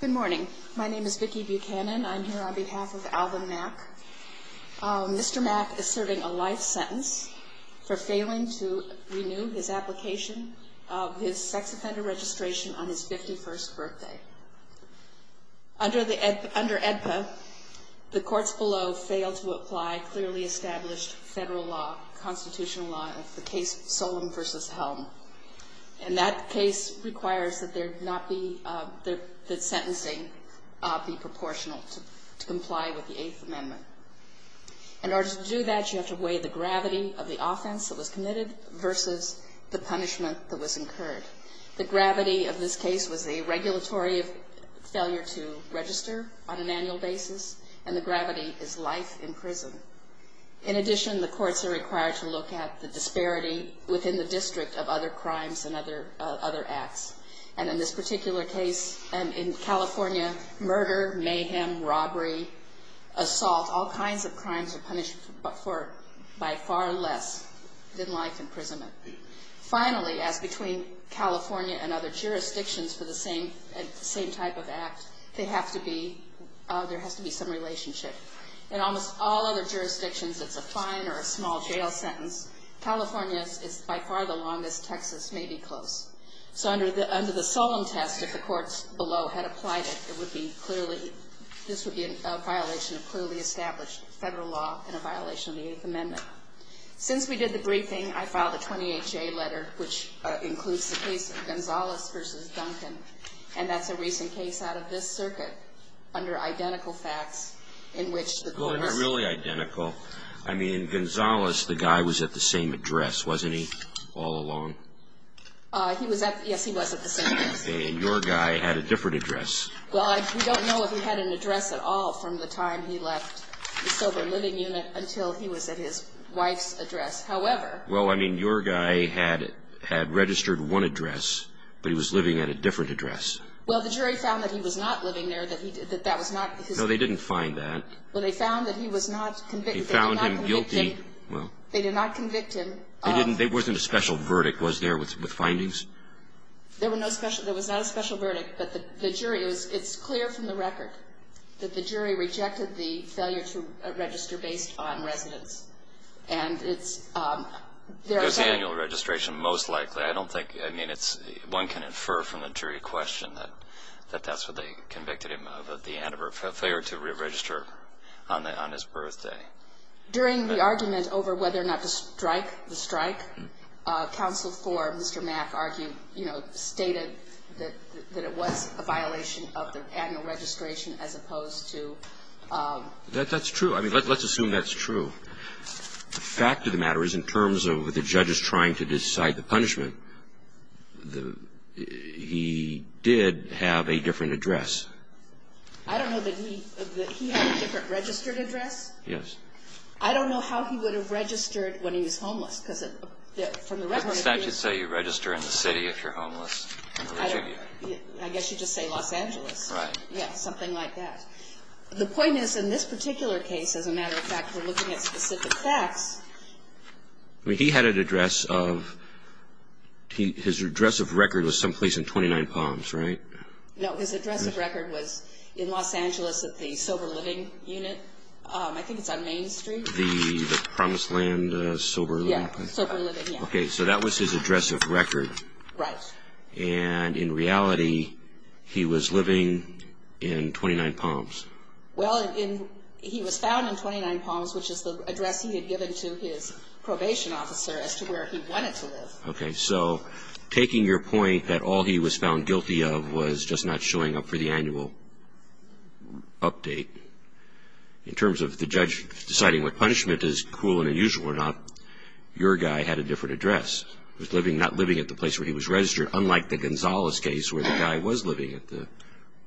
Good morning. My name is Vicki Buchanan. I'm here on behalf of Alvin Mack. Mr. Mack is serving a life sentence for failing to renew his application of his sex offender registration on his 51st birthday. Under the, under AEDPA, the courts below failed to apply clearly established federal law, constitutional law of the case Solem v. Helm. And that case requires that there not be, that sentencing be proportional to comply with the Eighth Amendment. In order to do that, you have to weigh the gravity of the offense that was committed versus the punishment that was incurred. The gravity of this case was a regulatory failure to register on an annual basis, and the gravity is life in prison. In addition, the courts are required to look at the disparity within the district of other crimes and other, other acts. And in this particular case, in California, murder, mayhem, robbery, assault, all kinds of crimes are punished for by far less than life imprisonment. Finally, as between California and other jurisdictions for the same, same type of act, they have to be, there has to be some relationship. In almost all other jurisdictions, it's a fine or a small jail sentence. California is by far the longest. Texas may be close. So under the, under the Solem test, if the courts below had applied it, it would be clearly, this would be a violation of clearly established federal law and a violation of the Eighth Amendment. Since we did the briefing, I filed a 28-J letter, which includes the case of Gonzales v. Duncan. And that's a recent case out of this circuit under identical facts in which the courts I mean, in Gonzales, the guy was at the same address, wasn't he, all along? He was at, yes, he was at the same address. And your guy had a different address. Well, I, we don't know if he had an address at all from the time he left the sober living unit until he was at his wife's address. However. Well, I mean, your guy had, had registered one address, but he was living at a different address. Well, the jury found that he was not living there, that he, that that was not his. No, they didn't find that. Well, they found that he was not convicted. They found him guilty. They did not convict him. They didn't, there wasn't a special verdict, was there, with findings? There were no special, there was not a special verdict, but the jury, it's clear from the record that the jury rejected the failure to register based on residence. And it's, they're saying. It was the annual registration, most likely. I don't think, I mean, it's, one can infer from the jury question that, that that's what they convicted him of at the end of her failure to register on the, on his birthday. During the argument over whether or not to strike the strike, counsel for Mr. Mack argued, you know, stated that, that it was a violation of the annual registration as opposed to. That, that's true. I mean, let's assume that's true. The fact of the matter is, in terms of the judges trying to decide the punishment, the, he did have a different address. I don't know that he, that he had a different registered address. Yes. I don't know how he would have registered when he was homeless, because from the record. But the statute say you register in the city if you're homeless. I don't, I guess you just say Los Angeles. Right. Yeah, something like that. The point is, in this particular case, as a matter of fact, we're looking at specific facts. I mean, he had an address of, his address of record was someplace in 29 Palms, right? No, his address of record was in Los Angeles at the Sober Living unit. I think it's on Main Street. The, the Promised Land Sober Living place? Yeah, Sober Living, yeah. Okay, so that was his address of record. Right. And in reality, he was living in 29 Palms. Well, in, he was found in 29 Palms, which is the address he had given to his probation officer as to where he wanted to live. Okay, so taking your point that all he was found guilty of was just not showing up for the annual update, in terms of the judge deciding what punishment is cruel and unusual or not, your guy had a different address. He was living, not living at the place where he was registered, unlike the Gonzalez case where the guy was living at the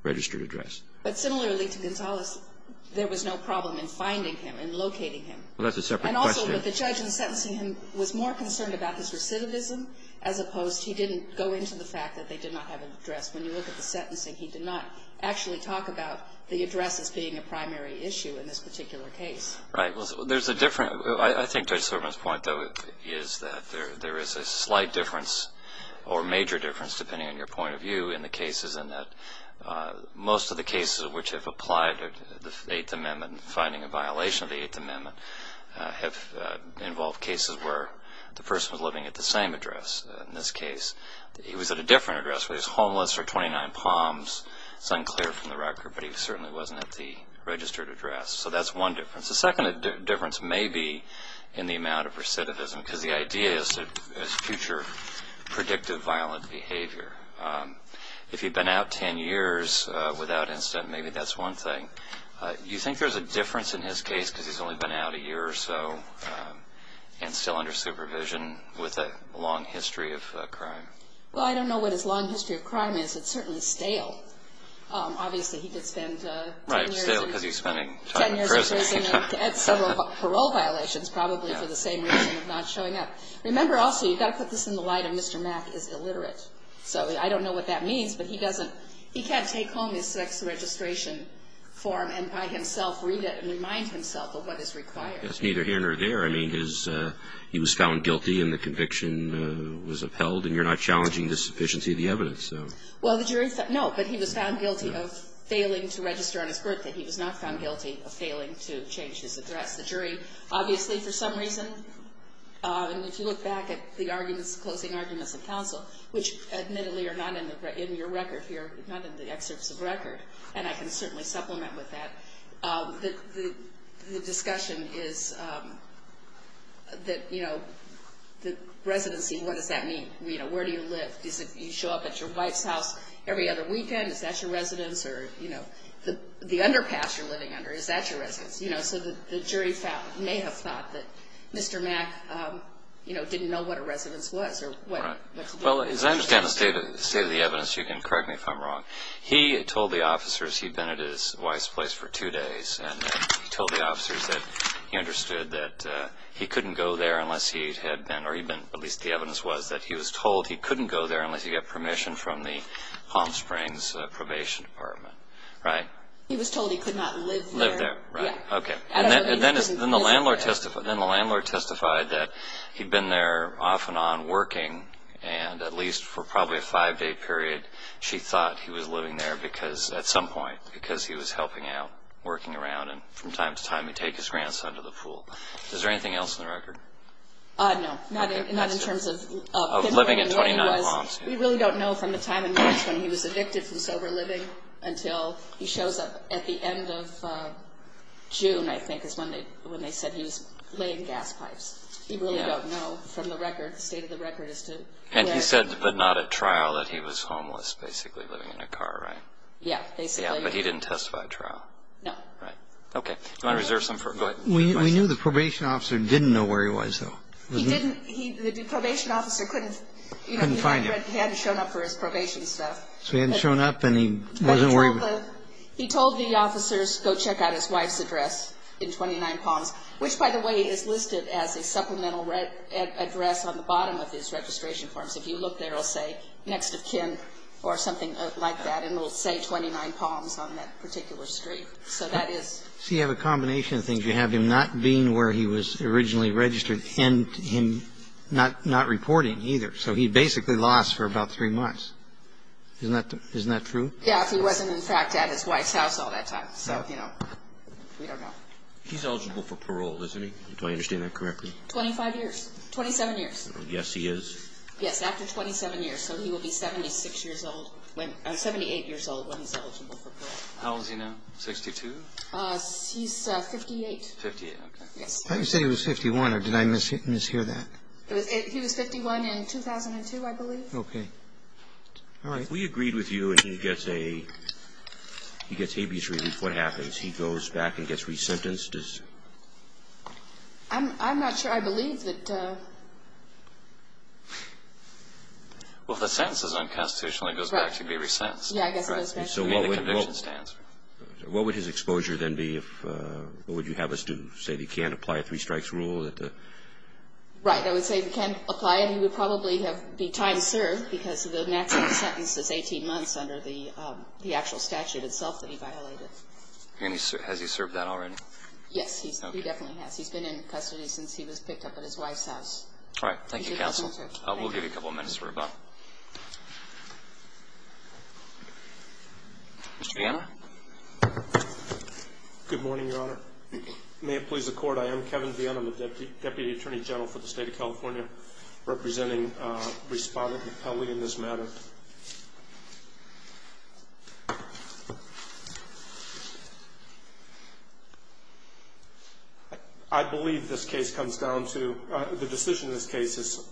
registered address. But similarly to Gonzalez, there was no problem in finding him and locating him. Well, that's a separate question. And also, the judge in sentencing him was more concerned about his recidivism, as opposed, he didn't go into the fact that they did not have an address. When you look at the sentencing, he did not actually talk about the address as being a primary issue in this particular case. Right. Well, there's a difference. I think Judge Silverman's point, though, is that there is a slight difference or major difference depending on your point of view in the cases, in that most of the cases which have applied to the Eighth Amendment, finding a violation of the Eighth Amendment, have involved cases where the person was living at the same address. In this case, he was at a different address where he was homeless for 29 Palms. It's unclear from the record, but he certainly wasn't at the registered address. So that's one difference. The second difference may be in the amount of recidivism, because the idea is future predictive violent behavior. If he'd been out 10 years without incident, maybe that's one thing. Do you think there's a difference in his case because he's only been out a year or so and still under supervision with a long history of crime? Well, I don't know what his long history of crime is. It's certainly stale. Obviously, he could spend 10 years in prison. That's several parole violations probably for the same reason of not showing up. Remember also, you've got to put this in the light of Mr. Mack is illiterate. So I don't know what that means, but he doesn't – he can't take home his sex registration form and by himself read it and remind himself of what is required. That's neither here nor there. I mean, his – he was found guilty and the conviction was upheld, and you're not challenging the sufficiency of the evidence. Well, the jury – no, but he was found guilty of failing to register on his birth and he was not found guilty of failing to change his address. The jury, obviously, for some reason, and if you look back at the closing arguments in counsel, which admittedly are not in your record here, not in the excerpts of record, and I can certainly supplement with that, the discussion is that, you know, the residency, what does that mean? You know, where do you live? Do you show up at your wife's house every other weekend? Is that your residence? Or, you know, the underpass you're living under, is that your residence? You know, so the jury may have thought that Mr. Mack, you know, didn't know what a residence was. Right. Well, as I understand the state of the evidence, you can correct me if I'm wrong, he told the officers he'd been at his wife's place for two days and then told the officers that he understood that he couldn't go there unless he had been or he'd been – at least the evidence was that he was told he couldn't go there unless he got permission from the Palm Springs Probation Department. Right? He was told he could not live there. Live there. Right. Okay. And then the landlord testified that he'd been there off and on working and at least for probably a five-day period she thought he was living there because – at some point because he was helping out, working around, and from time to time he'd take his grandson to the pool. Is there anything else in the record? No. Not in terms of – We really don't know from the time in March when he was evicted from sober living until he shows up at the end of June, I think, is when they said he was laying gas pipes. We really don't know from the record, the state of the record as to where – And he said, but not at trial, that he was homeless, basically living in a car, right? Yeah. But he didn't testify at trial? No. Right. Okay. Do you want to reserve some for – go ahead. We knew the probation officer didn't know where he was, though. He didn't – the probation officer couldn't – He hadn't shown up for his probation stuff. So he hadn't shown up and he wasn't worried – He told the officers, go check out his wife's address in 29 Palms, which, by the way, is listed as a supplemental address on the bottom of his registration form. So if you look there, it'll say, next of kin or something like that, and it'll say 29 Palms on that particular street. So that is – So you have a combination of things. You have him not being where he was originally registered and him not reporting either. So he basically lost for about three months. Isn't that true? Yeah, if he wasn't, in fact, at his wife's house all that time. So, you know, we don't know. He's eligible for parole, isn't he? Do I understand that correctly? 25 years. 27 years. Yes, he is. Yes, after 27 years. So he will be 76 years old – 78 years old when he's eligible for parole. How old is he now? 62? He's 58. 58, okay. Yes. I thought you said he was 51, or did I mishear that? He was 51 in 2002, I believe. Okay. All right. If we agreed with you and he gets a – he gets habeas relief, what happens? He goes back and gets resentenced? I'm not sure. I believe that – Well, if the sentence is unconstitutional, he goes back to be resentenced. Yeah, I guess it is. So what would his exposure then be if – what would you have us do? Say that he can't apply a three strikes rule? Right. I would say he can't apply it. He would probably have – be time served because the natural sentence is 18 months under the actual statute itself that he violated. And has he served that already? Yes, he definitely has. He's been in custody since he was picked up at his wife's house. All right. Thank you, counsel. We'll give you a couple minutes for rebuttal. Mr. Viena? Good morning, Your Honor. May it please the Court, I am Kevin Viena. I'm the Deputy Attorney General for the State of California, representing Respondent Pelley in this matter. I believe this case comes down to – the decision in this case is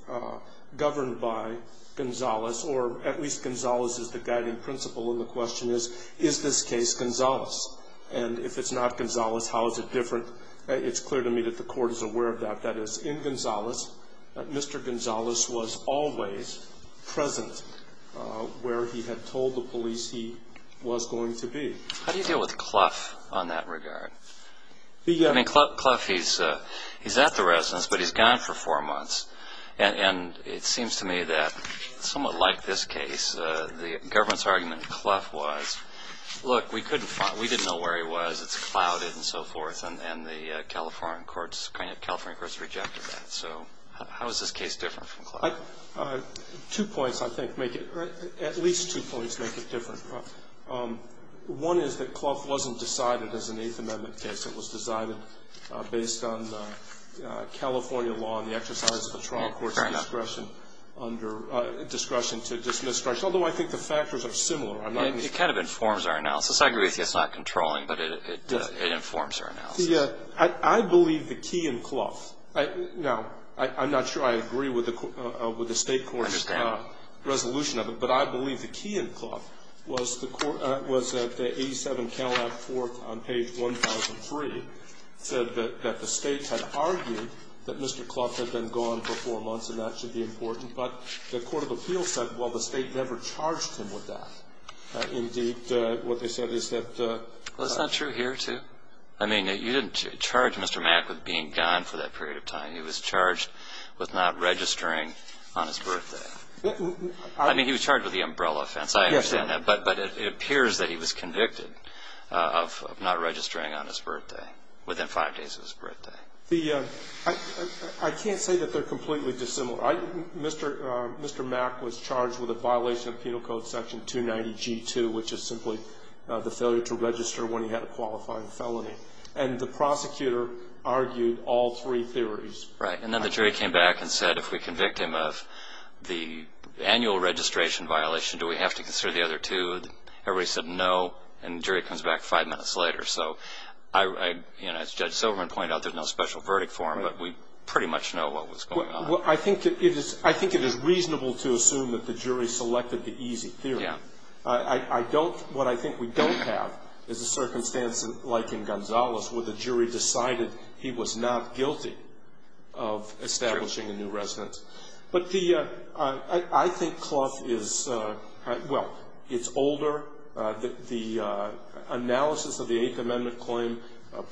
governed by Gonzalez, or at least Gonzalez is the guiding principle, and the question is, is this case Gonzalez? And if it's not Gonzalez, how is it different? It's clear to me that the Court is aware of that. That is, in Gonzalez, Mr. Gonzalez was always present where he had told the police he was going to be. How do you deal with Clough on that regard? I mean, Clough, he's at the residence, but he's gone for four months. And it seems to me that somewhat like this case, the government's argument in Clough was, look, we didn't know where he was, it's clouded and so forth, and the California courts rejected that. So how is this case different from Clough? Two points, I think, make it – at least two points make it different. One is that Clough wasn't decided as an Eighth Amendment case. It was decided based on California law and the exercise of the trial court's discretion under – discretion to dismiss – although I think the factors are similar. It kind of informs our analysis. I agree with you it's not controlling, but it informs our analysis. I believe the key in Clough – now, I'm not sure I agree with the State court's resolution of it, but I believe the key in Clough was that the 87 Calab Fourth on page 1003 said that the State had argued that Mr. Clough had been gone for four months and that should be important, but the court of appeals said, well, the State never charged him with that. Indeed, what they said is that – Well, it's not true here, too. I mean, you didn't charge Mr. Mack with being gone for that period of time. He was charged with not registering on his birthday. I mean, he was charged with the umbrella offense. I understand that. But it appears that he was convicted of not registering on his birthday, within five days of his birthday. The – I can't say that they're completely dissimilar. Mr. Mack was charged with a violation of Penal Code Section 290G2, which is simply the failure to register when he had a qualifying felony. And the prosecutor argued all three theories. Right. And then the jury came back and said, if we convict him of the annual registration violation, do we have to consider the other two? Everybody said no, and the jury comes back five minutes later. So, you know, as Judge Silverman pointed out, there's no special verdict for him, but we pretty much know what was going on. Well, I think it is reasonable to assume that the jury selected the easy theory. Yeah. I don't – what I think we don't have is a circumstance like in Gonzales, where the jury decided he was not guilty of establishing a new residence. But the – I think Clough is – well, it's older. The analysis of the Eighth Amendment claim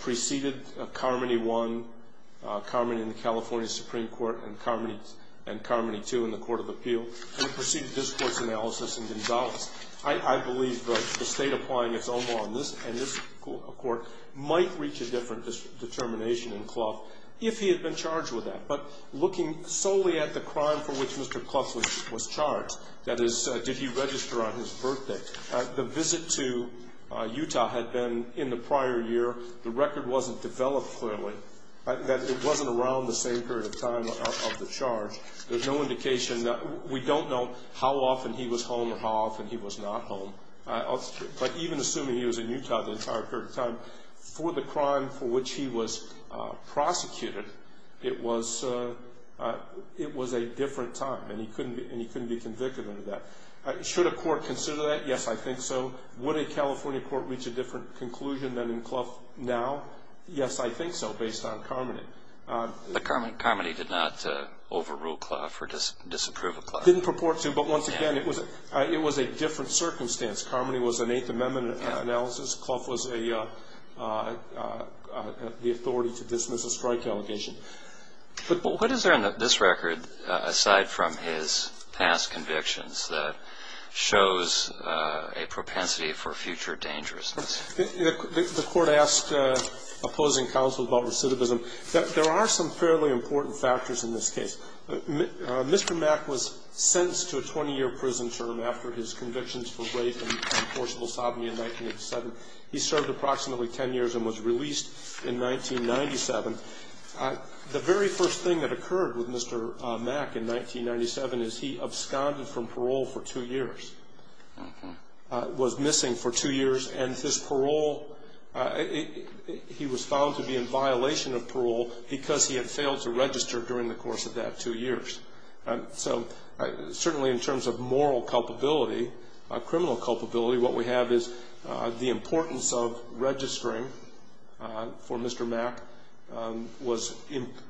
preceded Carmody 1, Carmody in the California Supreme Court, and Carmody 2 in the Court of Appeal, and it preceded this Court's analysis in Gonzales. I believe the State applying its own law on this and this Court might reach a different determination in Clough if he had been charged with that. But looking solely at the crime for which Mr. Clough was charged, that is, did he register on his birthday, the visit to Utah had been in the prior year. The record wasn't developed clearly. It wasn't around the same period of time of the charge. There's no indication. We don't know how often he was home or how often he was not home. But even assuming he was in Utah the entire period of time, for the crime for which he was prosecuted, it was a different time, and he couldn't be convicted under that. Should a court consider that? Yes, I think so. Would a California court reach a different conclusion than in Clough now? Yes, I think so, based on Carmody. But Carmody did not overrule Clough or disapprove of Clough? Didn't purport to, but once again, it was a different circumstance. Carmody was an Eighth Amendment analysis. Clough was the authority to dismiss a strike allegation. What is there in this record, aside from his past convictions, that shows a propensity for future dangerousness? The court asked opposing counsel about recidivism. There are some fairly important factors in this case. Mr. Mack was sentenced to a 20-year prison term after his convictions for rape and forcible sodomy in 1987. He served approximately 10 years and was released in 1997. The very first thing that occurred with Mr. Mack in 1997 is he absconded from parole for two years, was missing for two years, and his parole, he was found to be in violation of parole because he had failed to register during the course of that two years. So certainly in terms of moral culpability, criminal culpability, what we have is the importance of registering for Mr. Mack was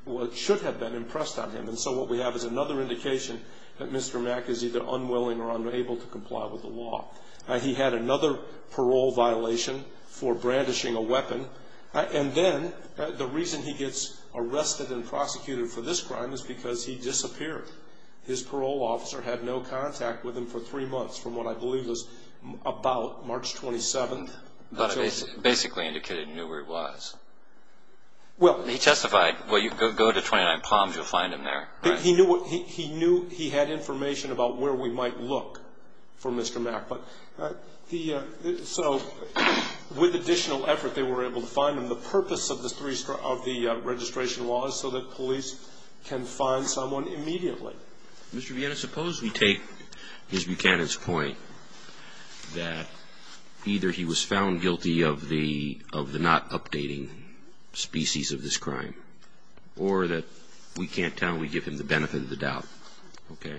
what should have been impressed on him. And so what we have is another indication that Mr. Mack is either unwilling or unable to comply with the law. He had another parole violation for brandishing a weapon, and then the reason he gets arrested and prosecuted for this crime is because he disappeared. His parole officer had no contact with him for three months from what I believe was about March 27th. Basically indicated he knew where he was. He testified, well, you go to 29 Palms, you'll find him there. He knew he had information about where we might look for Mr. Mack. So with additional effort, they were able to find him. And the purpose of the registration law is so that police can find someone immediately. Mr. Viena, suppose we take Ms. Buchanan's point that either he was found guilty of the not updating species of this crime or that we can't tell and we give him the benefit of the doubt. Okay.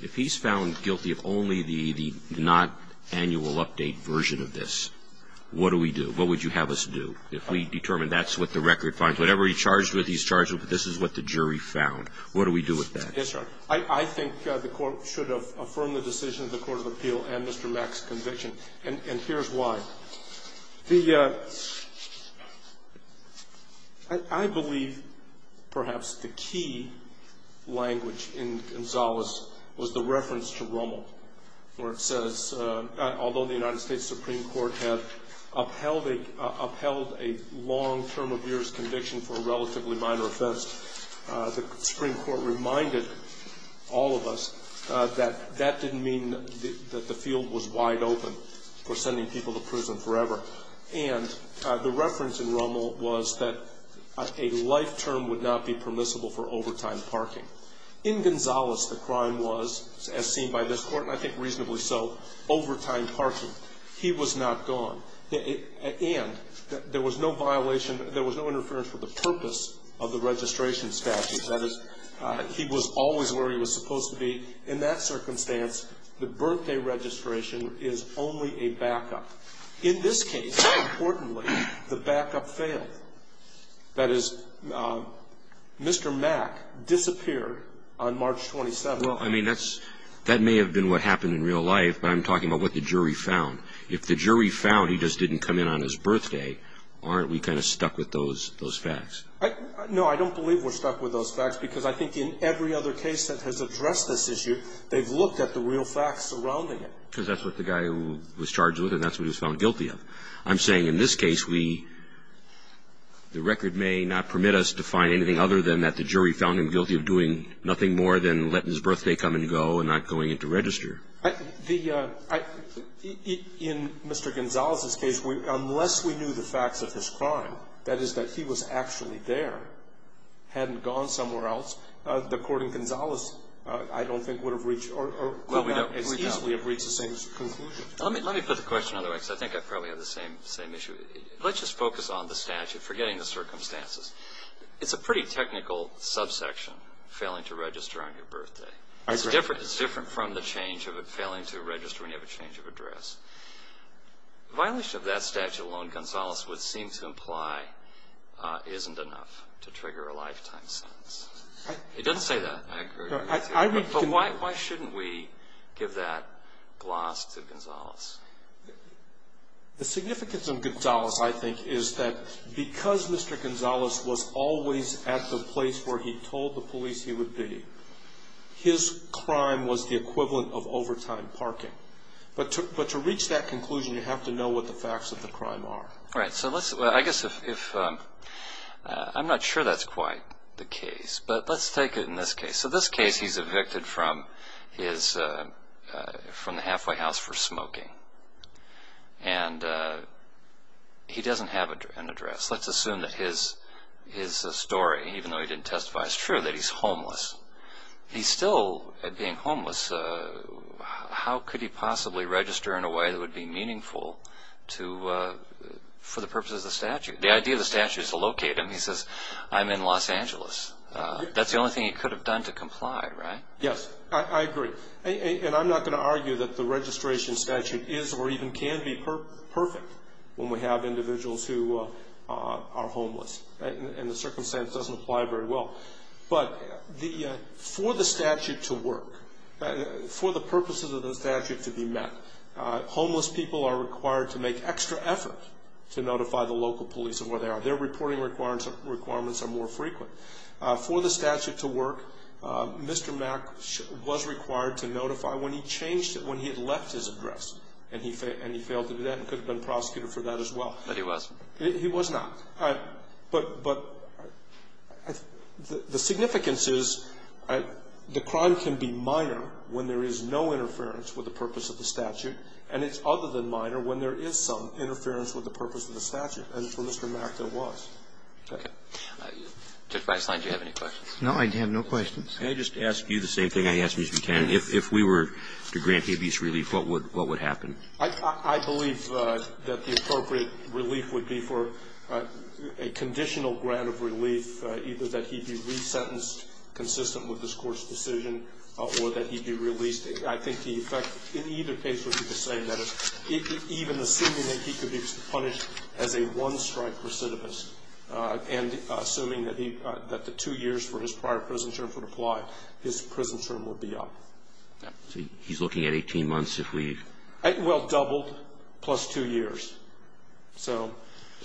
If he's found guilty of only the not annual update version of this, what do we do? What would you have us do? If we determine that's what the record finds, whatever he's charged with, he's charged with, but this is what the jury found. What do we do with that? Yes, Your Honor. I think the Court should have affirmed the decision of the Court of Appeal and Mr. Mack's conviction, and here's why. The – I believe perhaps the key language in Gonzales was the reference to Rommel, where it says although the United States Supreme Court had upheld a long term of years conviction for a relatively minor offense, the Supreme Court reminded all of us that that didn't mean that the field was wide open for sending people to prison forever. And the reference in Rommel was that a life term would not be permissible for overtime parking. In Gonzales, the crime was, as seen by this Court, and I think reasonably so, overtime parking. He was not gone. And there was no violation – there was no interference with the purpose of the registration statute. That is, he was always where he was supposed to be. In that circumstance, the birthday registration is only a backup. In this case, importantly, the backup failed. And I think that's what we're stuck with. That is, Mr. Mack disappeared on March 27th. Well, I mean, that's – that may have been what happened in real life, but I'm talking about what the jury found. If the jury found he just didn't come in on his birthday, aren't we kind of stuck with those facts? No, I don't believe we're stuck with those facts because I think in every other case that has addressed this issue, they've looked at the real facts surrounding it. Because that's what the guy who was charged with it, that's what he was found guilty of. I'm saying in this case, we – the record may not permit us to find anything other than that the jury found him guilty of doing nothing more than letting his birthday come and go and not going in to register. The – in Mr. Gonzales' case, unless we knew the facts of his crime, that is, that he was actually there, hadn't gone somewhere else, the court in Gonzales, I don't think, would have reached – could not as easily have reached the same conclusion. Let me put the question another way because I think I probably have the same issue. Let's just focus on the statute, forgetting the circumstances. It's a pretty technical subsection, failing to register on your birthday. I agree. It's different from the change of failing to register when you have a change of address. Violation of that statute alone, Gonzales would seem to imply, isn't enough to trigger a lifetime sentence. He doesn't say that accurately. But why shouldn't we give that gloss to Gonzales? The significance of Gonzales, I think, is that because Mr. Gonzales was always at the place where he told the police he would be, his crime was the equivalent of overtime parking. But to reach that conclusion, you have to know what the facts of the crime are. Right. So let's – I guess if – I'm not sure that's quite the case, but let's take it in this case. So this case, he's evicted from his – from the halfway house for smoking. And he doesn't have an address. Let's assume that his story, even though he didn't testify, is true, that he's homeless. He's still being homeless. How could he possibly register in a way that would be meaningful to – for the purposes of the statute? The idea of the statute is to locate him. He says, I'm in Los Angeles. That's the only thing he could have done to comply, right? Yes. I agree. And I'm not going to argue that the registration statute is or even can be perfect when we have individuals who are homeless. And the circumstance doesn't apply very well. But for the statute to work, for the purposes of the statute to be met, homeless people are required to make extra effort to notify the local police of where they are. Their reporting requirements are more frequent. For the statute to work, Mr. Mack was required to notify when he changed it, when he had left his address. And he failed to do that and could have been prosecuted for that as well. But he was? He was not. But the significance is the crime can be minor when there is no interference with the purpose of the statute, and it's other than minor when there is some interference with the purpose of the statute. And for Mr. Mack, there was. Okay. Judge Weisslein, do you have any questions? No, I have no questions. Can I just ask you the same thing I asked Mr. Cannon? If we were to grant habeas relief, what would happen? I believe that the appropriate relief would be for a conditional grant of relief, either that he be resentenced consistent with this Court's decision or that he be released. I think the effect in either case would be the same, that is, even assuming that he could be punished as a one-strike recidivist and assuming that the two years for his prior prison term would apply, his prison term would be up. So he's looking at 18 months if we ---- Well, doubled, plus two years. So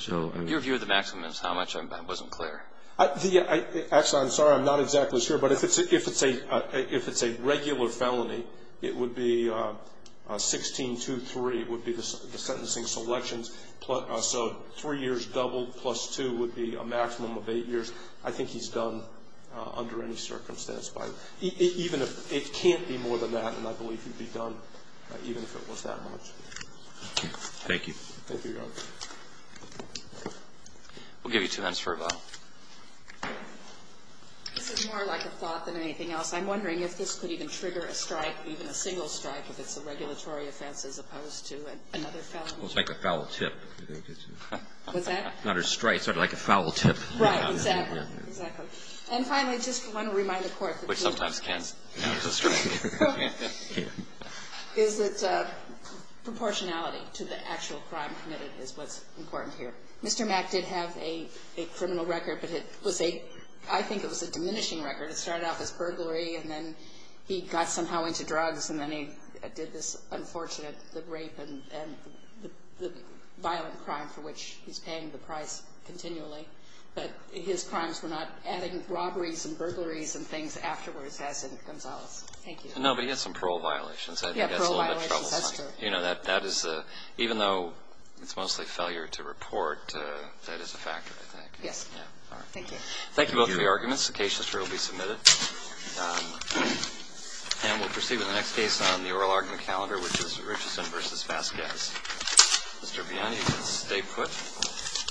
---- Your view of the maximum is how much? I wasn't clear. Actually, I'm sorry. I'm not exactly sure. But if it's a regular felony, it would be 16-2-3 would be the sentencing selections. So three years doubled plus two would be a maximum of eight years. I think he's done under any circumstance. Even if it can't be more than that, and I believe he'd be done even if it was that much. Okay. Thank you. Thank you, Your Honor. We'll give you two minutes for a vote. This is more like a thought than anything else. I'm wondering if this could even trigger a strike, even a single strike, if it's a regulatory offense as opposed to another felony. It's like a foul tip. What's that? Not a strike. Sort of like a foul tip. Right. Exactly. Exactly. And finally, just want to remind the Court that ---- Which sometimes can. That's right. ---- is that proportionality to the actual crime committed is what's important here. Mr. Mack did have a criminal record, but it was a ---- I think it was a diminishing record. It started off as burglary, and then he got somehow into drugs, and then he did this unfortunate rape and the violent crime for which he's paying the price continually. But his crimes were not adding robberies and burglaries and things afterwards, as in Gonzales. Thank you. No, but he had some parole violations. I think that's a little bit troublesome. He had parole violations. That's true. You know, that is a ---- even though it's mostly failure to report, that is a factor, I think. Yes. All right. Thank you. Thank you both for your arguments. The case history will be submitted. And we'll proceed with the next case on the oral argument calendar, which is Richardson v. Vasquez. Mr. Bione, you can stay put.